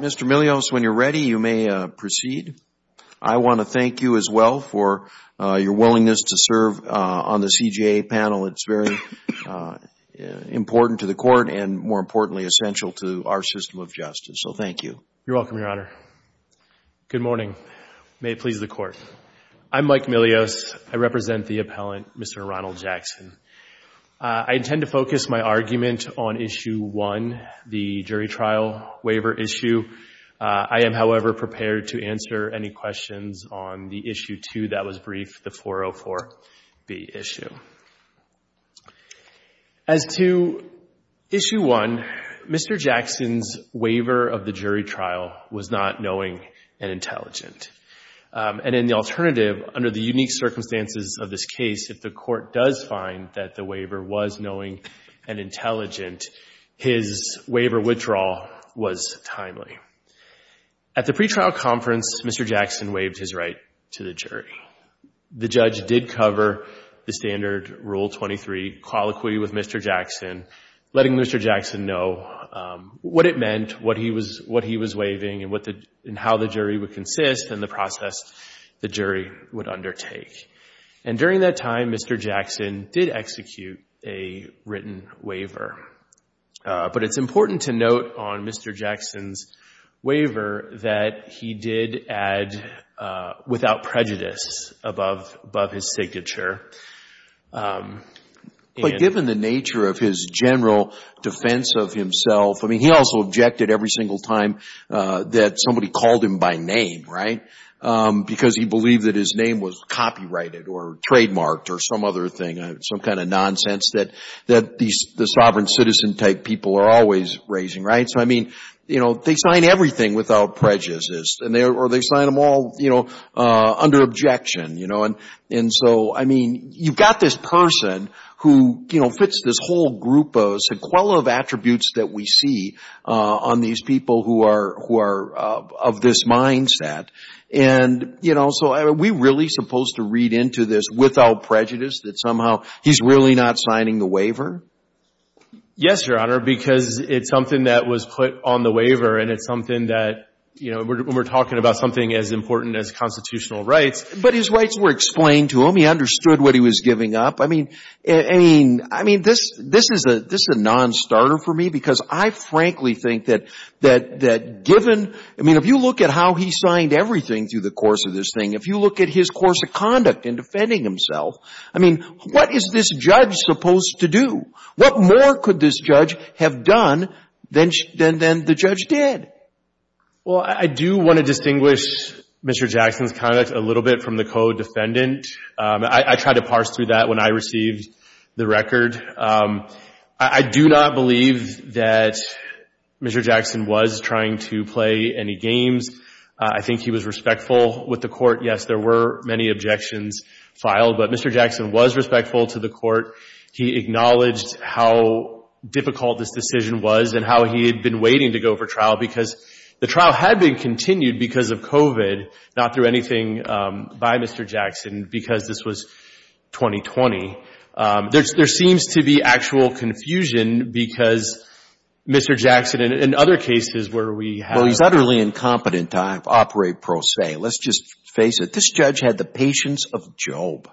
Mr. Milios, when you're ready, you may proceed. I want to thank you as well for your willingness to serve on the CJA panel. It's very important to the Court and, more importantly, essential to our system of justice, so thank you. You're welcome, Your Honor. Good morning. May it please the Court. I'm Mike Milios. I represent the appellant, Mr. Ronald Jackson. I intend to focus my argument on Issue 1, the jury trial waiver issue. I am, however, prepared to answer any questions on the Issue 2 that was briefed, the 404B issue. As to Issue 1, Mr. Jackson's waiver of the jury trial was not knowing and intelligent. And in the alternative, under the unique circumstances of this case, if the Court does find that the waiver was knowing and intelligent, his waiver withdrawal was timely. At the pretrial conference, Mr. Jackson waived his right to the jury. The judge did cover the standard Rule 23, call equity with Mr. Jackson, letting Mr. Jackson know what it meant, what he was waiving and how the jury would consist and the process the jury would undertake. And during that time, Mr. Jackson did execute a written waiver. But it's important to note on Mr. Jackson's waiver that he did add without prejudice above his signature. But given the nature of his general defense of name, because he believed that his name was copyrighted or trademarked or some other thing, some kind of nonsense that the sovereign citizen type people are always raising. They sign everything without prejudice or they sign them all under objection. You've got this person who fits this whole group of sequela of attributes that we see on these people who are of this mindset. And, you know, so are we really supposed to read into this without prejudice that somehow he's really not signing the waiver? Yes, Your Honor, because it's something that was put on the waiver and it's something that, you know, when we're talking about something as important as constitutional rights. But his rights were explained to him. He understood what he was giving up. I mean, I mean, this is a non-starter for me because I frankly think that given, I mean, if you look at how he signed everything through the course of this thing, if you look at his course of conduct in defending himself, I mean, what is this judge supposed to do? What more could this judge have done than the judge did? Well, I do want to distinguish Mr. Jackson's conduct a little bit from the co-defendant. I tried to parse through that when I received the record. I do not believe that Mr. Jackson was trying to play any games. I think he was respectful with the court. Yes, there were many objections filed, but Mr. Jackson was respectful to the court. He acknowledged how difficult this decision was and how he had been waiting to go for trial because the trial had been continued because of COVID, not through anything by Mr. Jackson because this was 2020. There seems to be actual confusion because Mr. Jackson, in other cases where we have- Well, he's utterly incompetent to operate pro se. Let's just face it. This judge had the patience of Job.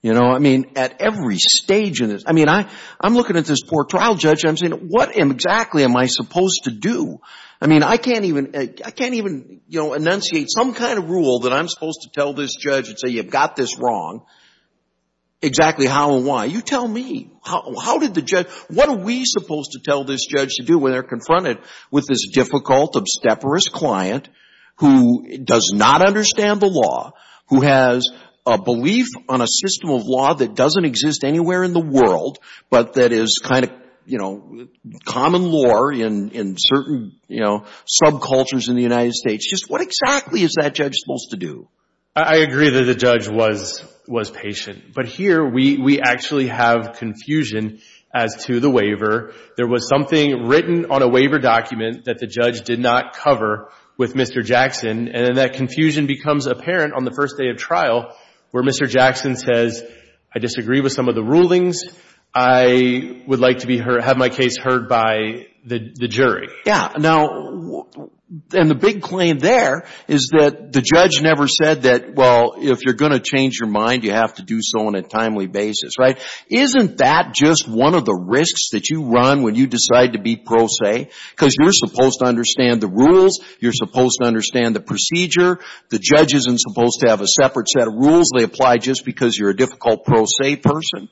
You know, I mean, at every stage in this, I mean, I'm looking at this poor trial judge. I'm asking, what exactly am I supposed to do? I mean, I can't even enunciate some kind of rule that I'm supposed to tell this judge and say, you've got this wrong. Exactly how and why? You tell me. How did the judge- What are we supposed to tell this judge to do when they're confronted with this difficult, obsteperous client who does not understand the law, who has a belief on a common law in certain, you know, subcultures in the United States? Just what exactly is that judge supposed to do? I agree that the judge was patient, but here we actually have confusion as to the waiver. There was something written on a waiver document that the judge did not cover with Mr. Jackson, and then that confusion becomes apparent on the first day of trial where Mr. Jackson says, I disagree with some of the rulings. I would like to have my case heard by the jury. Yeah. Now, and the big claim there is that the judge never said that, well, if you're going to change your mind, you have to do so on a timely basis, right? Isn't that just one of the risks that you run when you decide to be pro se? Because you're supposed to understand the rules. You're supposed to understand the procedure. The judge isn't supposed to have a separate set of rules they apply just because you're a difficult pro se person.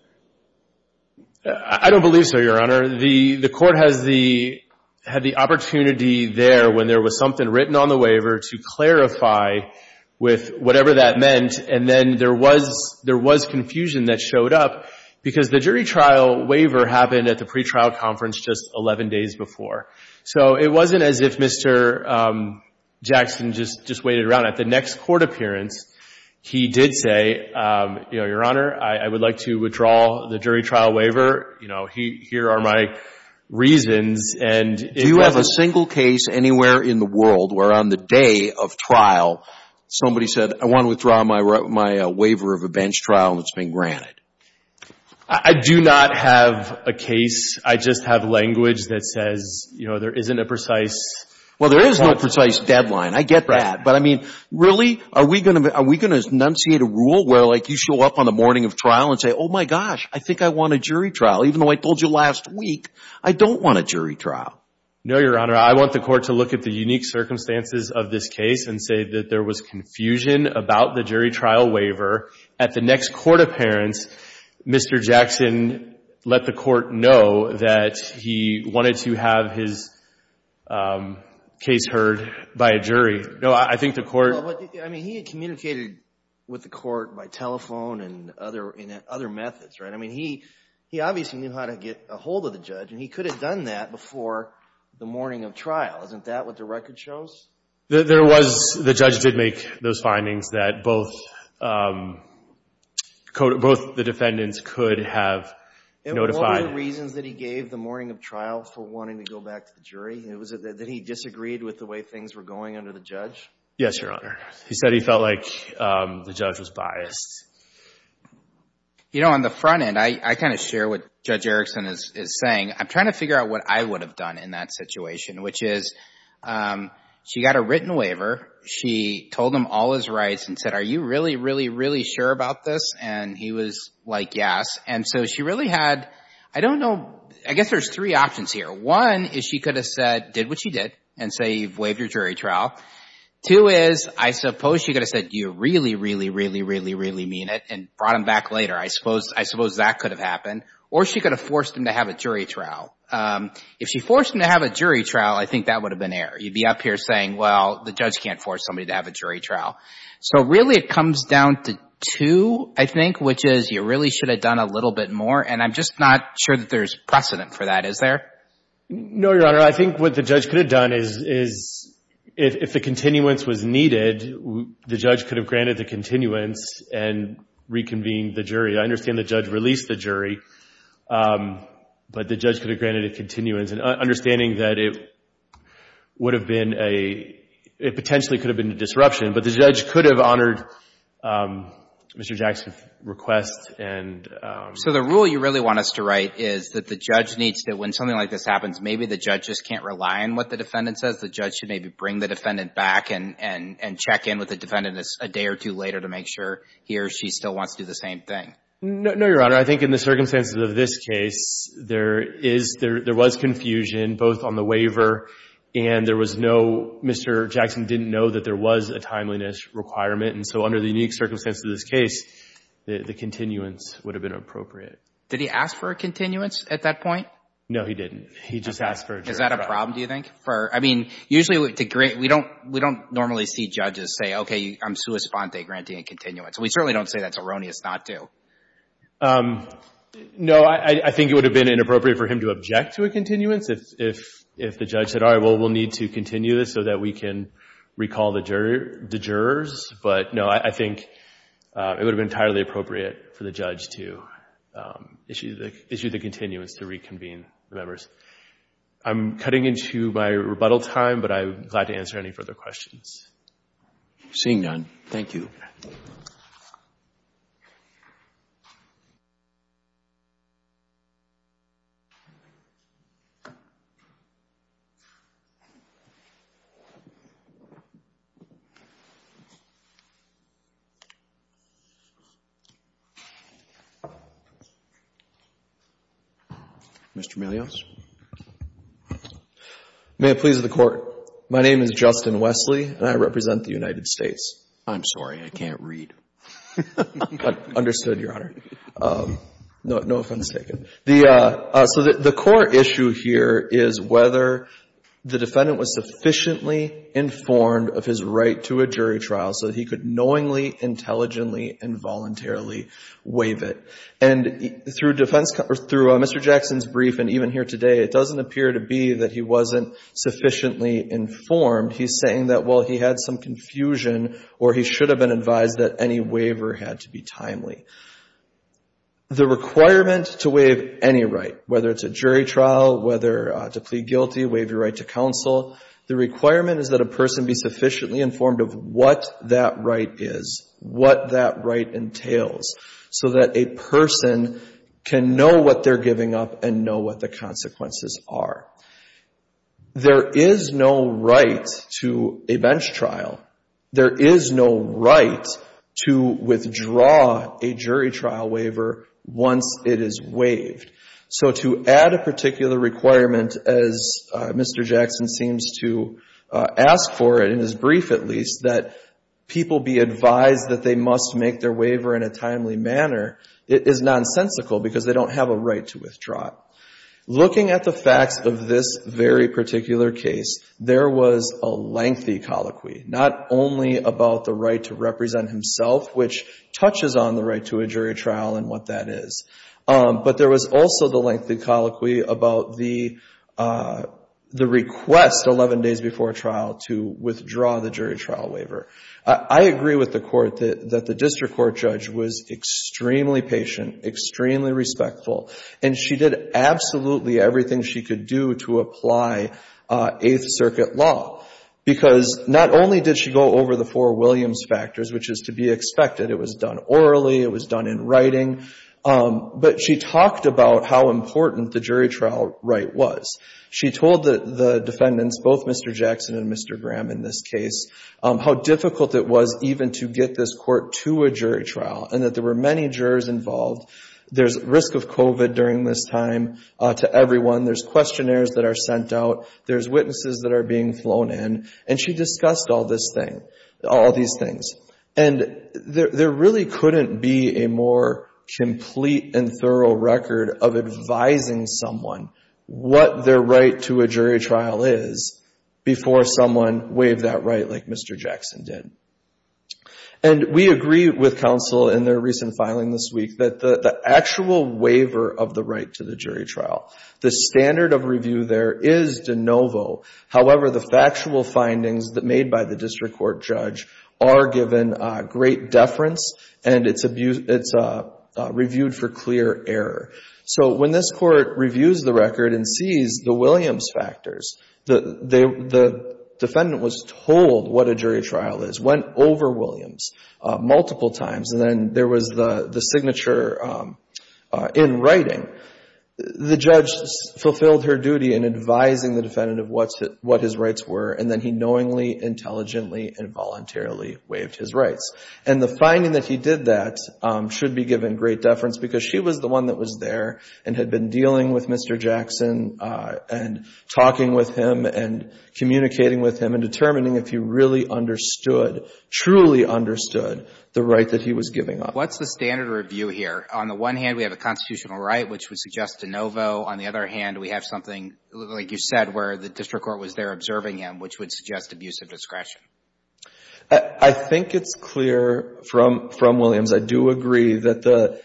I don't believe so, Your Honor. The court had the opportunity there when there was something written on the waiver to clarify with whatever that meant, and then there was confusion that showed up because the jury trial waiver happened at the pretrial conference just 11 days before. So it wasn't as if Mr. Jackson just waited around. At the next court appearance, he did say, Your Honor, I would like to withdraw the jury trial waiver. Here are my reasons. Do you have a single case anywhere in the world where on the day of trial, somebody said, I want to withdraw my waiver of a bench trial that's been granted? I do not have a case. I just have language that says there isn't a precise deadline. There is no precise deadline. I get that. But really, are we going to enunciate a rule where you show up on the morning of trial and say, oh my gosh, I think I want a jury trial, even though I told you last week I don't want a jury trial? No, Your Honor. I want the court to look at the unique circumstances of this case and say that there was confusion about the jury trial waiver. At the next court appearance, Mr. Jackson let the case heard by a jury. No, I think the court... I mean, he had communicated with the court by telephone and other methods, right? I mean, he obviously knew how to get a hold of the judge, and he could have done that before the morning of trial. Isn't that what the record shows? There was. The judge did make those findings that both the defendants could have notified. What were the reasons that he gave the morning of trial for wanting to go back to the jury? That he disagreed with the way things were going under the judge? Yes, Your Honor. He said he felt like the judge was biased. You know, on the front end, I kind of share what Judge Erickson is saying. I'm trying to figure out what I would have done in that situation, which is she got a written waiver. She told him all his rights and said, are you really, really, really sure about this? And he was like, yes. And so she really had, I don't know, I guess there's three options here. One is she could have said, did what she did and say, you've waived your jury trial. Two is I suppose she could have said, you really, really, really, really, really mean it and brought him back later. I suppose that could have happened. Or she could have forced him to have a jury trial. If she forced him to have a jury trial, I think that would have been air. You'd be up here saying, well, the judge can't force somebody to have a jury trial. So really, it comes down to two, I think, which is you really should have done a little bit more. And I'm just not sure that there's precedent for that. Is there? No, Your Honor. I think what the judge could have done is if the continuance was needed, the judge could have granted the continuance and reconvened the jury. I understand the judge released the jury, but the judge could have granted a continuance. And understanding that it would have been a, it potentially could have been a disruption, but the judge could have honored Mr. Jackson's request. So the rule you really want us to write is that the judge needs to, when something like this happens, maybe the judge just can't rely on what the defendant says. The judge should maybe bring the defendant back and check in with the defendant a day or two later to make sure he or she still wants to do the same thing. No, Your Honor. I think in the circumstances of this case, there was confusion both on the waiver and there was no, Mr. Jackson didn't know there was a timeliness requirement. And so under the unique circumstances of this case, the continuance would have been appropriate. Did he ask for a continuance at that point? No, he didn't. He just asked for a jury trial. Is that a problem, do you think? I mean, usually we don't normally see judges say, okay, I'm sua sponte, granting a continuance. We certainly don't say that's erroneous not to. No, I think it would have been inappropriate for him to object to a continuance if the judge said, all right, well, we'll need to continue this so that we can recall the jurors. But, no, I think it would have been entirely appropriate for the judge to issue the continuance to reconvene the members. I'm cutting into my rebuttal time, but I'm glad to answer any further questions. Seeing none, thank you. Mr. Melios? May it please the Court, my name is Justin Wesley and I represent the United States. I'm sorry, I can't read. Understood, Your Honor. No offense taken. So the core issue here is whether the defendant was sufficiently informed of his right to a jury trial so that he could knowingly, intelligently, and voluntarily waive it. And through Mr. Jackson's brief and even here today, it doesn't appear to be that he wasn't sufficiently informed. He's saying that, well, he had some confusion or he should have been advised that any waiver had to be timely. The requirement to waive any right, whether it's a jury trial, whether to plead guilty, waive your right to counsel, the requirement is that a person be sufficiently informed of what that right is, what that right entails, so that a person can know what they're giving up and know what the consequences are. There is no right to a bench trial. There is no right to withdraw a jury trial waiver once it is waived. So to add a particular requirement, as Mr. Jackson seems to ask for it in his brief at least, that people be advised that they must make their waiver in a timely manner, it is nonsensical because they don't have a right to withdraw it. Looking at the facts of this very particular case, there was a lengthy colloquy, not only about the right to represent himself, which touches on the right to a jury trial and what that is, but there was also the lengthy colloquy about the request 11 days before trial to withdraw the jury trial waiver. I agree with the Court that the district court judge was extremely patient, extremely respectful, and she did absolutely everything she could do to apply Eighth Circuit law, because not only did she go over the four Williams factors, which is to be expected, it was done orally, it was done in writing, but she talked about how important the jury trial right was. She told the defendants, both Mr. Jackson and Mr. Graham in this case, how difficult it was even to get this court to a jury trial and that there were many jurors involved. There's risk of COVID during this time to everyone, there's questionnaires that are sent out, there's witnesses that are being flown in, and she discussed all these things. And there really couldn't be a more complete and thorough record of advising someone what their right to a jury trial is before someone waived that right like Mr. Jackson did. And we agree with counsel in their recent filing this week that the actual waiver of the right to the jury trial, the standard of review there is de novo. However, the factual findings that made by the district court judge are given great deference and it's reviewed for clear error. So when this court reviews the record and sees the Williams factors, the defendant was told what a jury trial is, went over Williams multiple times, and then there was the signature in writing. The judge fulfilled her duty in advising the defendant of what his rights were, and then he knowingly, intelligently, and voluntarily waived his rights. And the finding that he did that should be given great deference because she was the one that was there and had been dealing with Mr. Jackson and talking with him and communicating with him and determining if he really understood, truly understood, the right that he was giving up. What's the standard of review here? On the one hand, we have a constitutional right, which would suggest de novo. On the other hand, we have something, like you said, where the district court was there observing him, which would suggest abusive discretion. I think it's clear from Williams. I do agree that the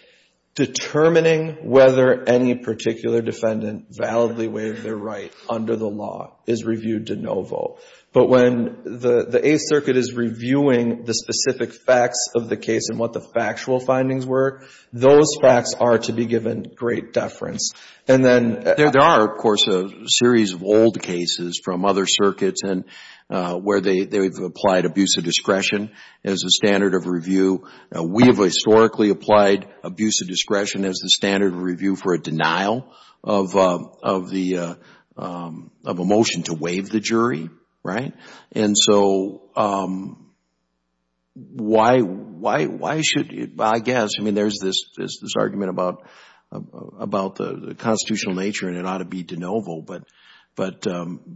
determining whether any particular defendant validly waived their right under the law is reviewed de novo. But when the Eighth Circuit is reviewing the specific facts of the case and what the factual findings were, those facts are to be given great deference. And then... There are, of course, a series of old cases from other applied abuse of discretion as a standard of review. We have historically applied abuse of discretion as the standard of review for a denial of a motion to waive the jury, right? And so, why should... I guess, I mean, there's this argument about the constitutional nature and it ought to be de novo. But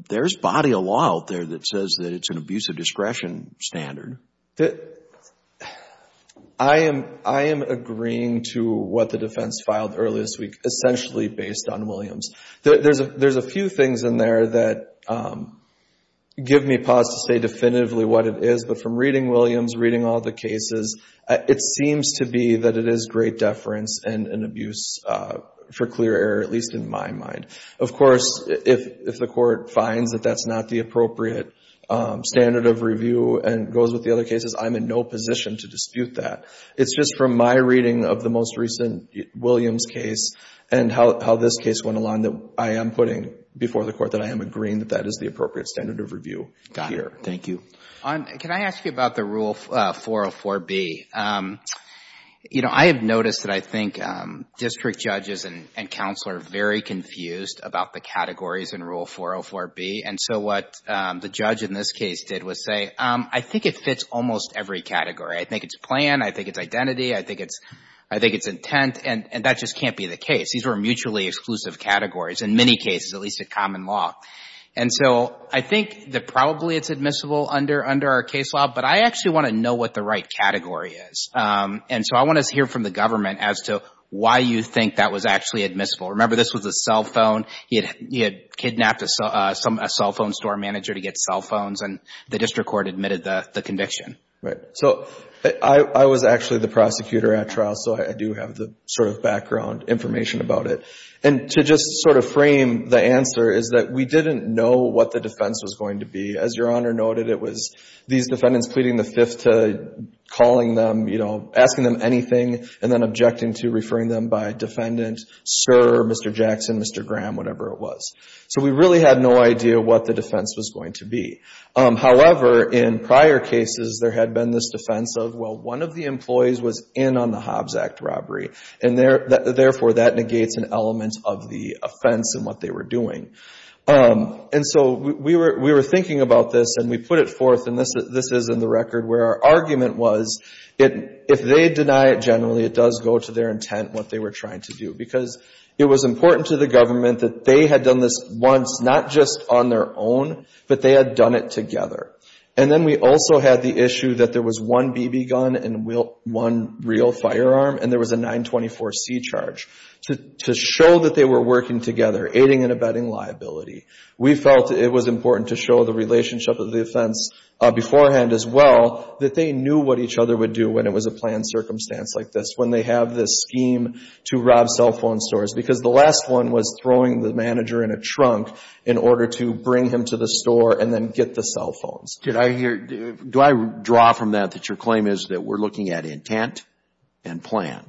there's body of law out there that says that it's an abusive discretion standard. I am agreeing to what the defense filed earlier this week, essentially based on Williams. There's a few things in there that give me pause to say definitively what it is. But from reading Williams, reading all the cases, it seems to be that it is great deference and Of course, if the court finds that that's not the appropriate standard of review and goes with the other cases, I'm in no position to dispute that. It's just from my reading of the most recent Williams case and how this case went along that I am putting before the court that I am agreeing that that is the appropriate standard of review here. Got it. Thank you. Can I ask you about the Rule 404B? You know, I have noticed that I think district judges and counsel are very confused about the categories in Rule 404B. And so, what the judge in this case did was say, I think it fits almost every category. I think it's plan. I think it's identity. I think it's intent. And that just can't be the case. These are mutually exclusive categories, in many cases, at least in common law. And so, I think that probably it's admissible under our case law, but I actually want to know what the right category is. And so, I want to hear from the Remember, this was a cell phone. He had kidnapped a cell phone store manager to get cell phones, and the district court admitted the conviction. Right. So, I was actually the prosecutor at trial, so I do have the sort of background information about it. And to just sort of frame the answer is that we didn't know what the defense was going to be. As Your Honor noted, it was these defendants pleading the Fifth to calling them, asking them anything, and then objecting to referring them by defendant, sir, Mr. Jackson, Mr. Graham, whatever it was. So, we really had no idea what the defense was going to be. However, in prior cases, there had been this defense of, well, one of the employees was in on the Hobbs Act robbery, and therefore, that negates an element of the offense and what they were doing. And so, we were thinking about this, and we put it forth, and this is in the If they deny it generally, it does go to their intent, what they were trying to do. Because it was important to the government that they had done this once, not just on their own, but they had done it together. And then we also had the issue that there was one BB gun and one real firearm, and there was a 924C charge to show that they were working together, aiding and abetting liability. We felt it was important to show the relationship of the offense beforehand as well, that they knew what each other would do when it was a planned circumstance like this, when they have this scheme to rob cell phone stores. Because the last one was throwing the manager in a trunk in order to bring him to the store and then get the cell phones. Did I hear, do I draw from that that your claim is that we're looking at intent and plan?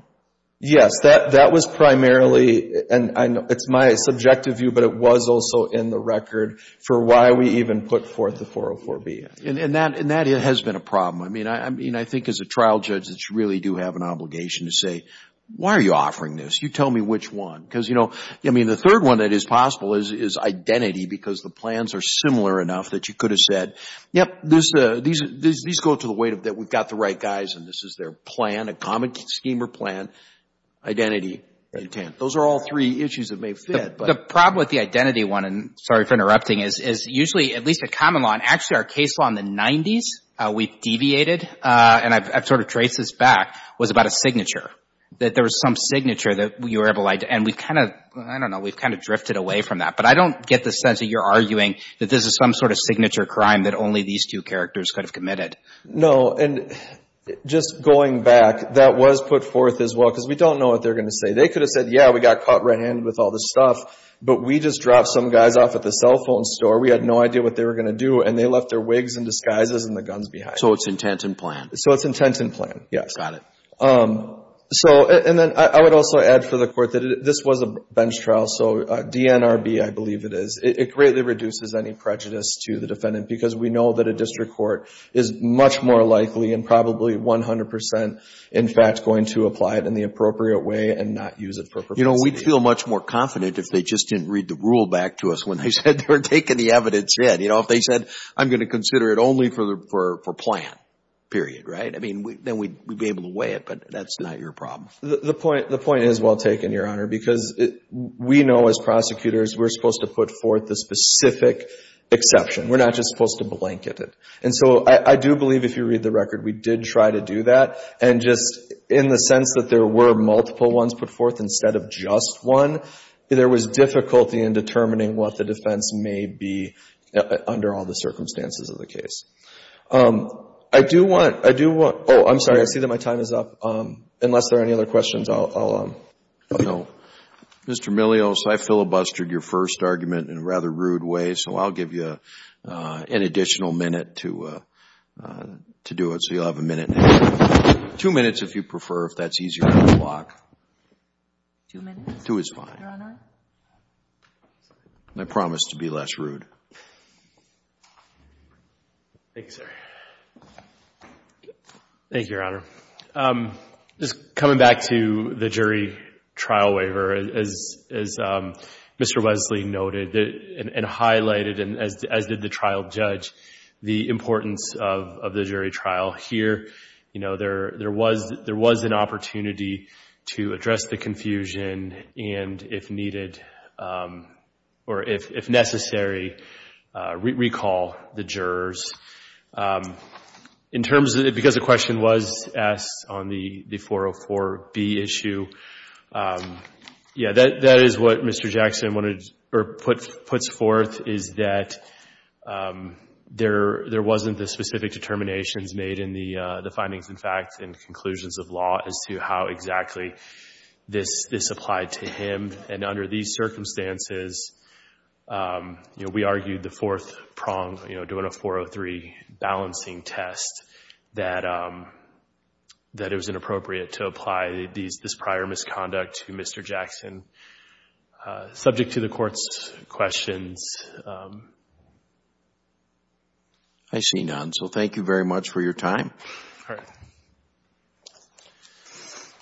Yes. That was primarily, and it's my subjective view, but it was also in the record for why we even put forth the 404B. And that has been a problem. I mean, I think as a trial judge that you really do have an obligation to say, why are you offering this? You tell me which one? Because, you know, I mean, the third one that is possible is identity because the plans are similar enough that you could have said, yep, these go to the weight of that we've got the right guys and this is their plan, a common scheme or plan, identity, intent. Those are all three issues that may fit. The problem with the identity one, is usually, at least at common law, and actually our case law in the 90s, we deviated, and I've sort of traced this back, was about a signature. That there was some signature that you were able to, and we've kind of, I don't know, we've kind of drifted away from that. But I don't get the sense that you're arguing that this is some sort of signature crime that only these two characters could have committed. No. And just going back, that was put forth as well because we don't know what they're going to say. They could have said, yeah, we got caught red-handed with all this stuff, but we just dropped some guys off at the cell phone store. We had no idea what they were going to do, and they left their wigs and disguises and the guns behind. So it's intent and plan. So it's intent and plan, yes. Got it. So, and then I would also add for the court that this was a bench trial, so DNRB, I believe it is, it greatly reduces any prejudice to the defendant because we know that a district court is much more likely and probably 100 percent, in fact, going to apply it in the appropriate way and not use it for profanity. You know, we'd feel much more confident if they just didn't read the rule back to us when they said they were taking the evidence in. You know, if they said, I'm going to consider it only for plan, period, right? I mean, then we'd be able to weigh it, but that's not your problem. The point is well taken, Your Honor, because we know as prosecutors we're supposed to put forth the specific exception. We're not just supposed to blanket it. And so I do believe if you read the record, we did try to do that. And just in the multiple ones put forth instead of just one, there was difficulty in determining what the defense may be under all the circumstances of the case. I do want, I do want, oh, I'm sorry, I see that my time is up. Unless there are any other questions, I'll go. Mr. Milios, I filibustered your first argument in a rather rude way, so I'll give you an additional minute to do it. So you'll have a minute. Two minutes if you prefer, if that's easier on the clock. Two minutes. Two is fine. Your Honor. I promise to be less rude. Thanks, sir. Thank you, Your Honor. Just coming back to the jury trial waiver, as Mr. Wesley noted and highlighted, and as did the trial judge, the importance of the jury trial. Here, you know, there was an opportunity to address the confusion and, if needed, or if necessary, recall the jurors. In terms of, because the question was asked on the 404B issue, yeah, that is what Mr. Jackson wanted, or puts forth, is that there wasn't the specific determinations made in the findings, in fact, and conclusions of law as to how exactly this applied to him. And under these circumstances, you know, we argued the fourth prong, you know, doing a 403 balancing test, that it was inappropriate to apply this prior misconduct to Mr. Jackson. Subject to the Court's questions. I see none. So thank you very much for your time.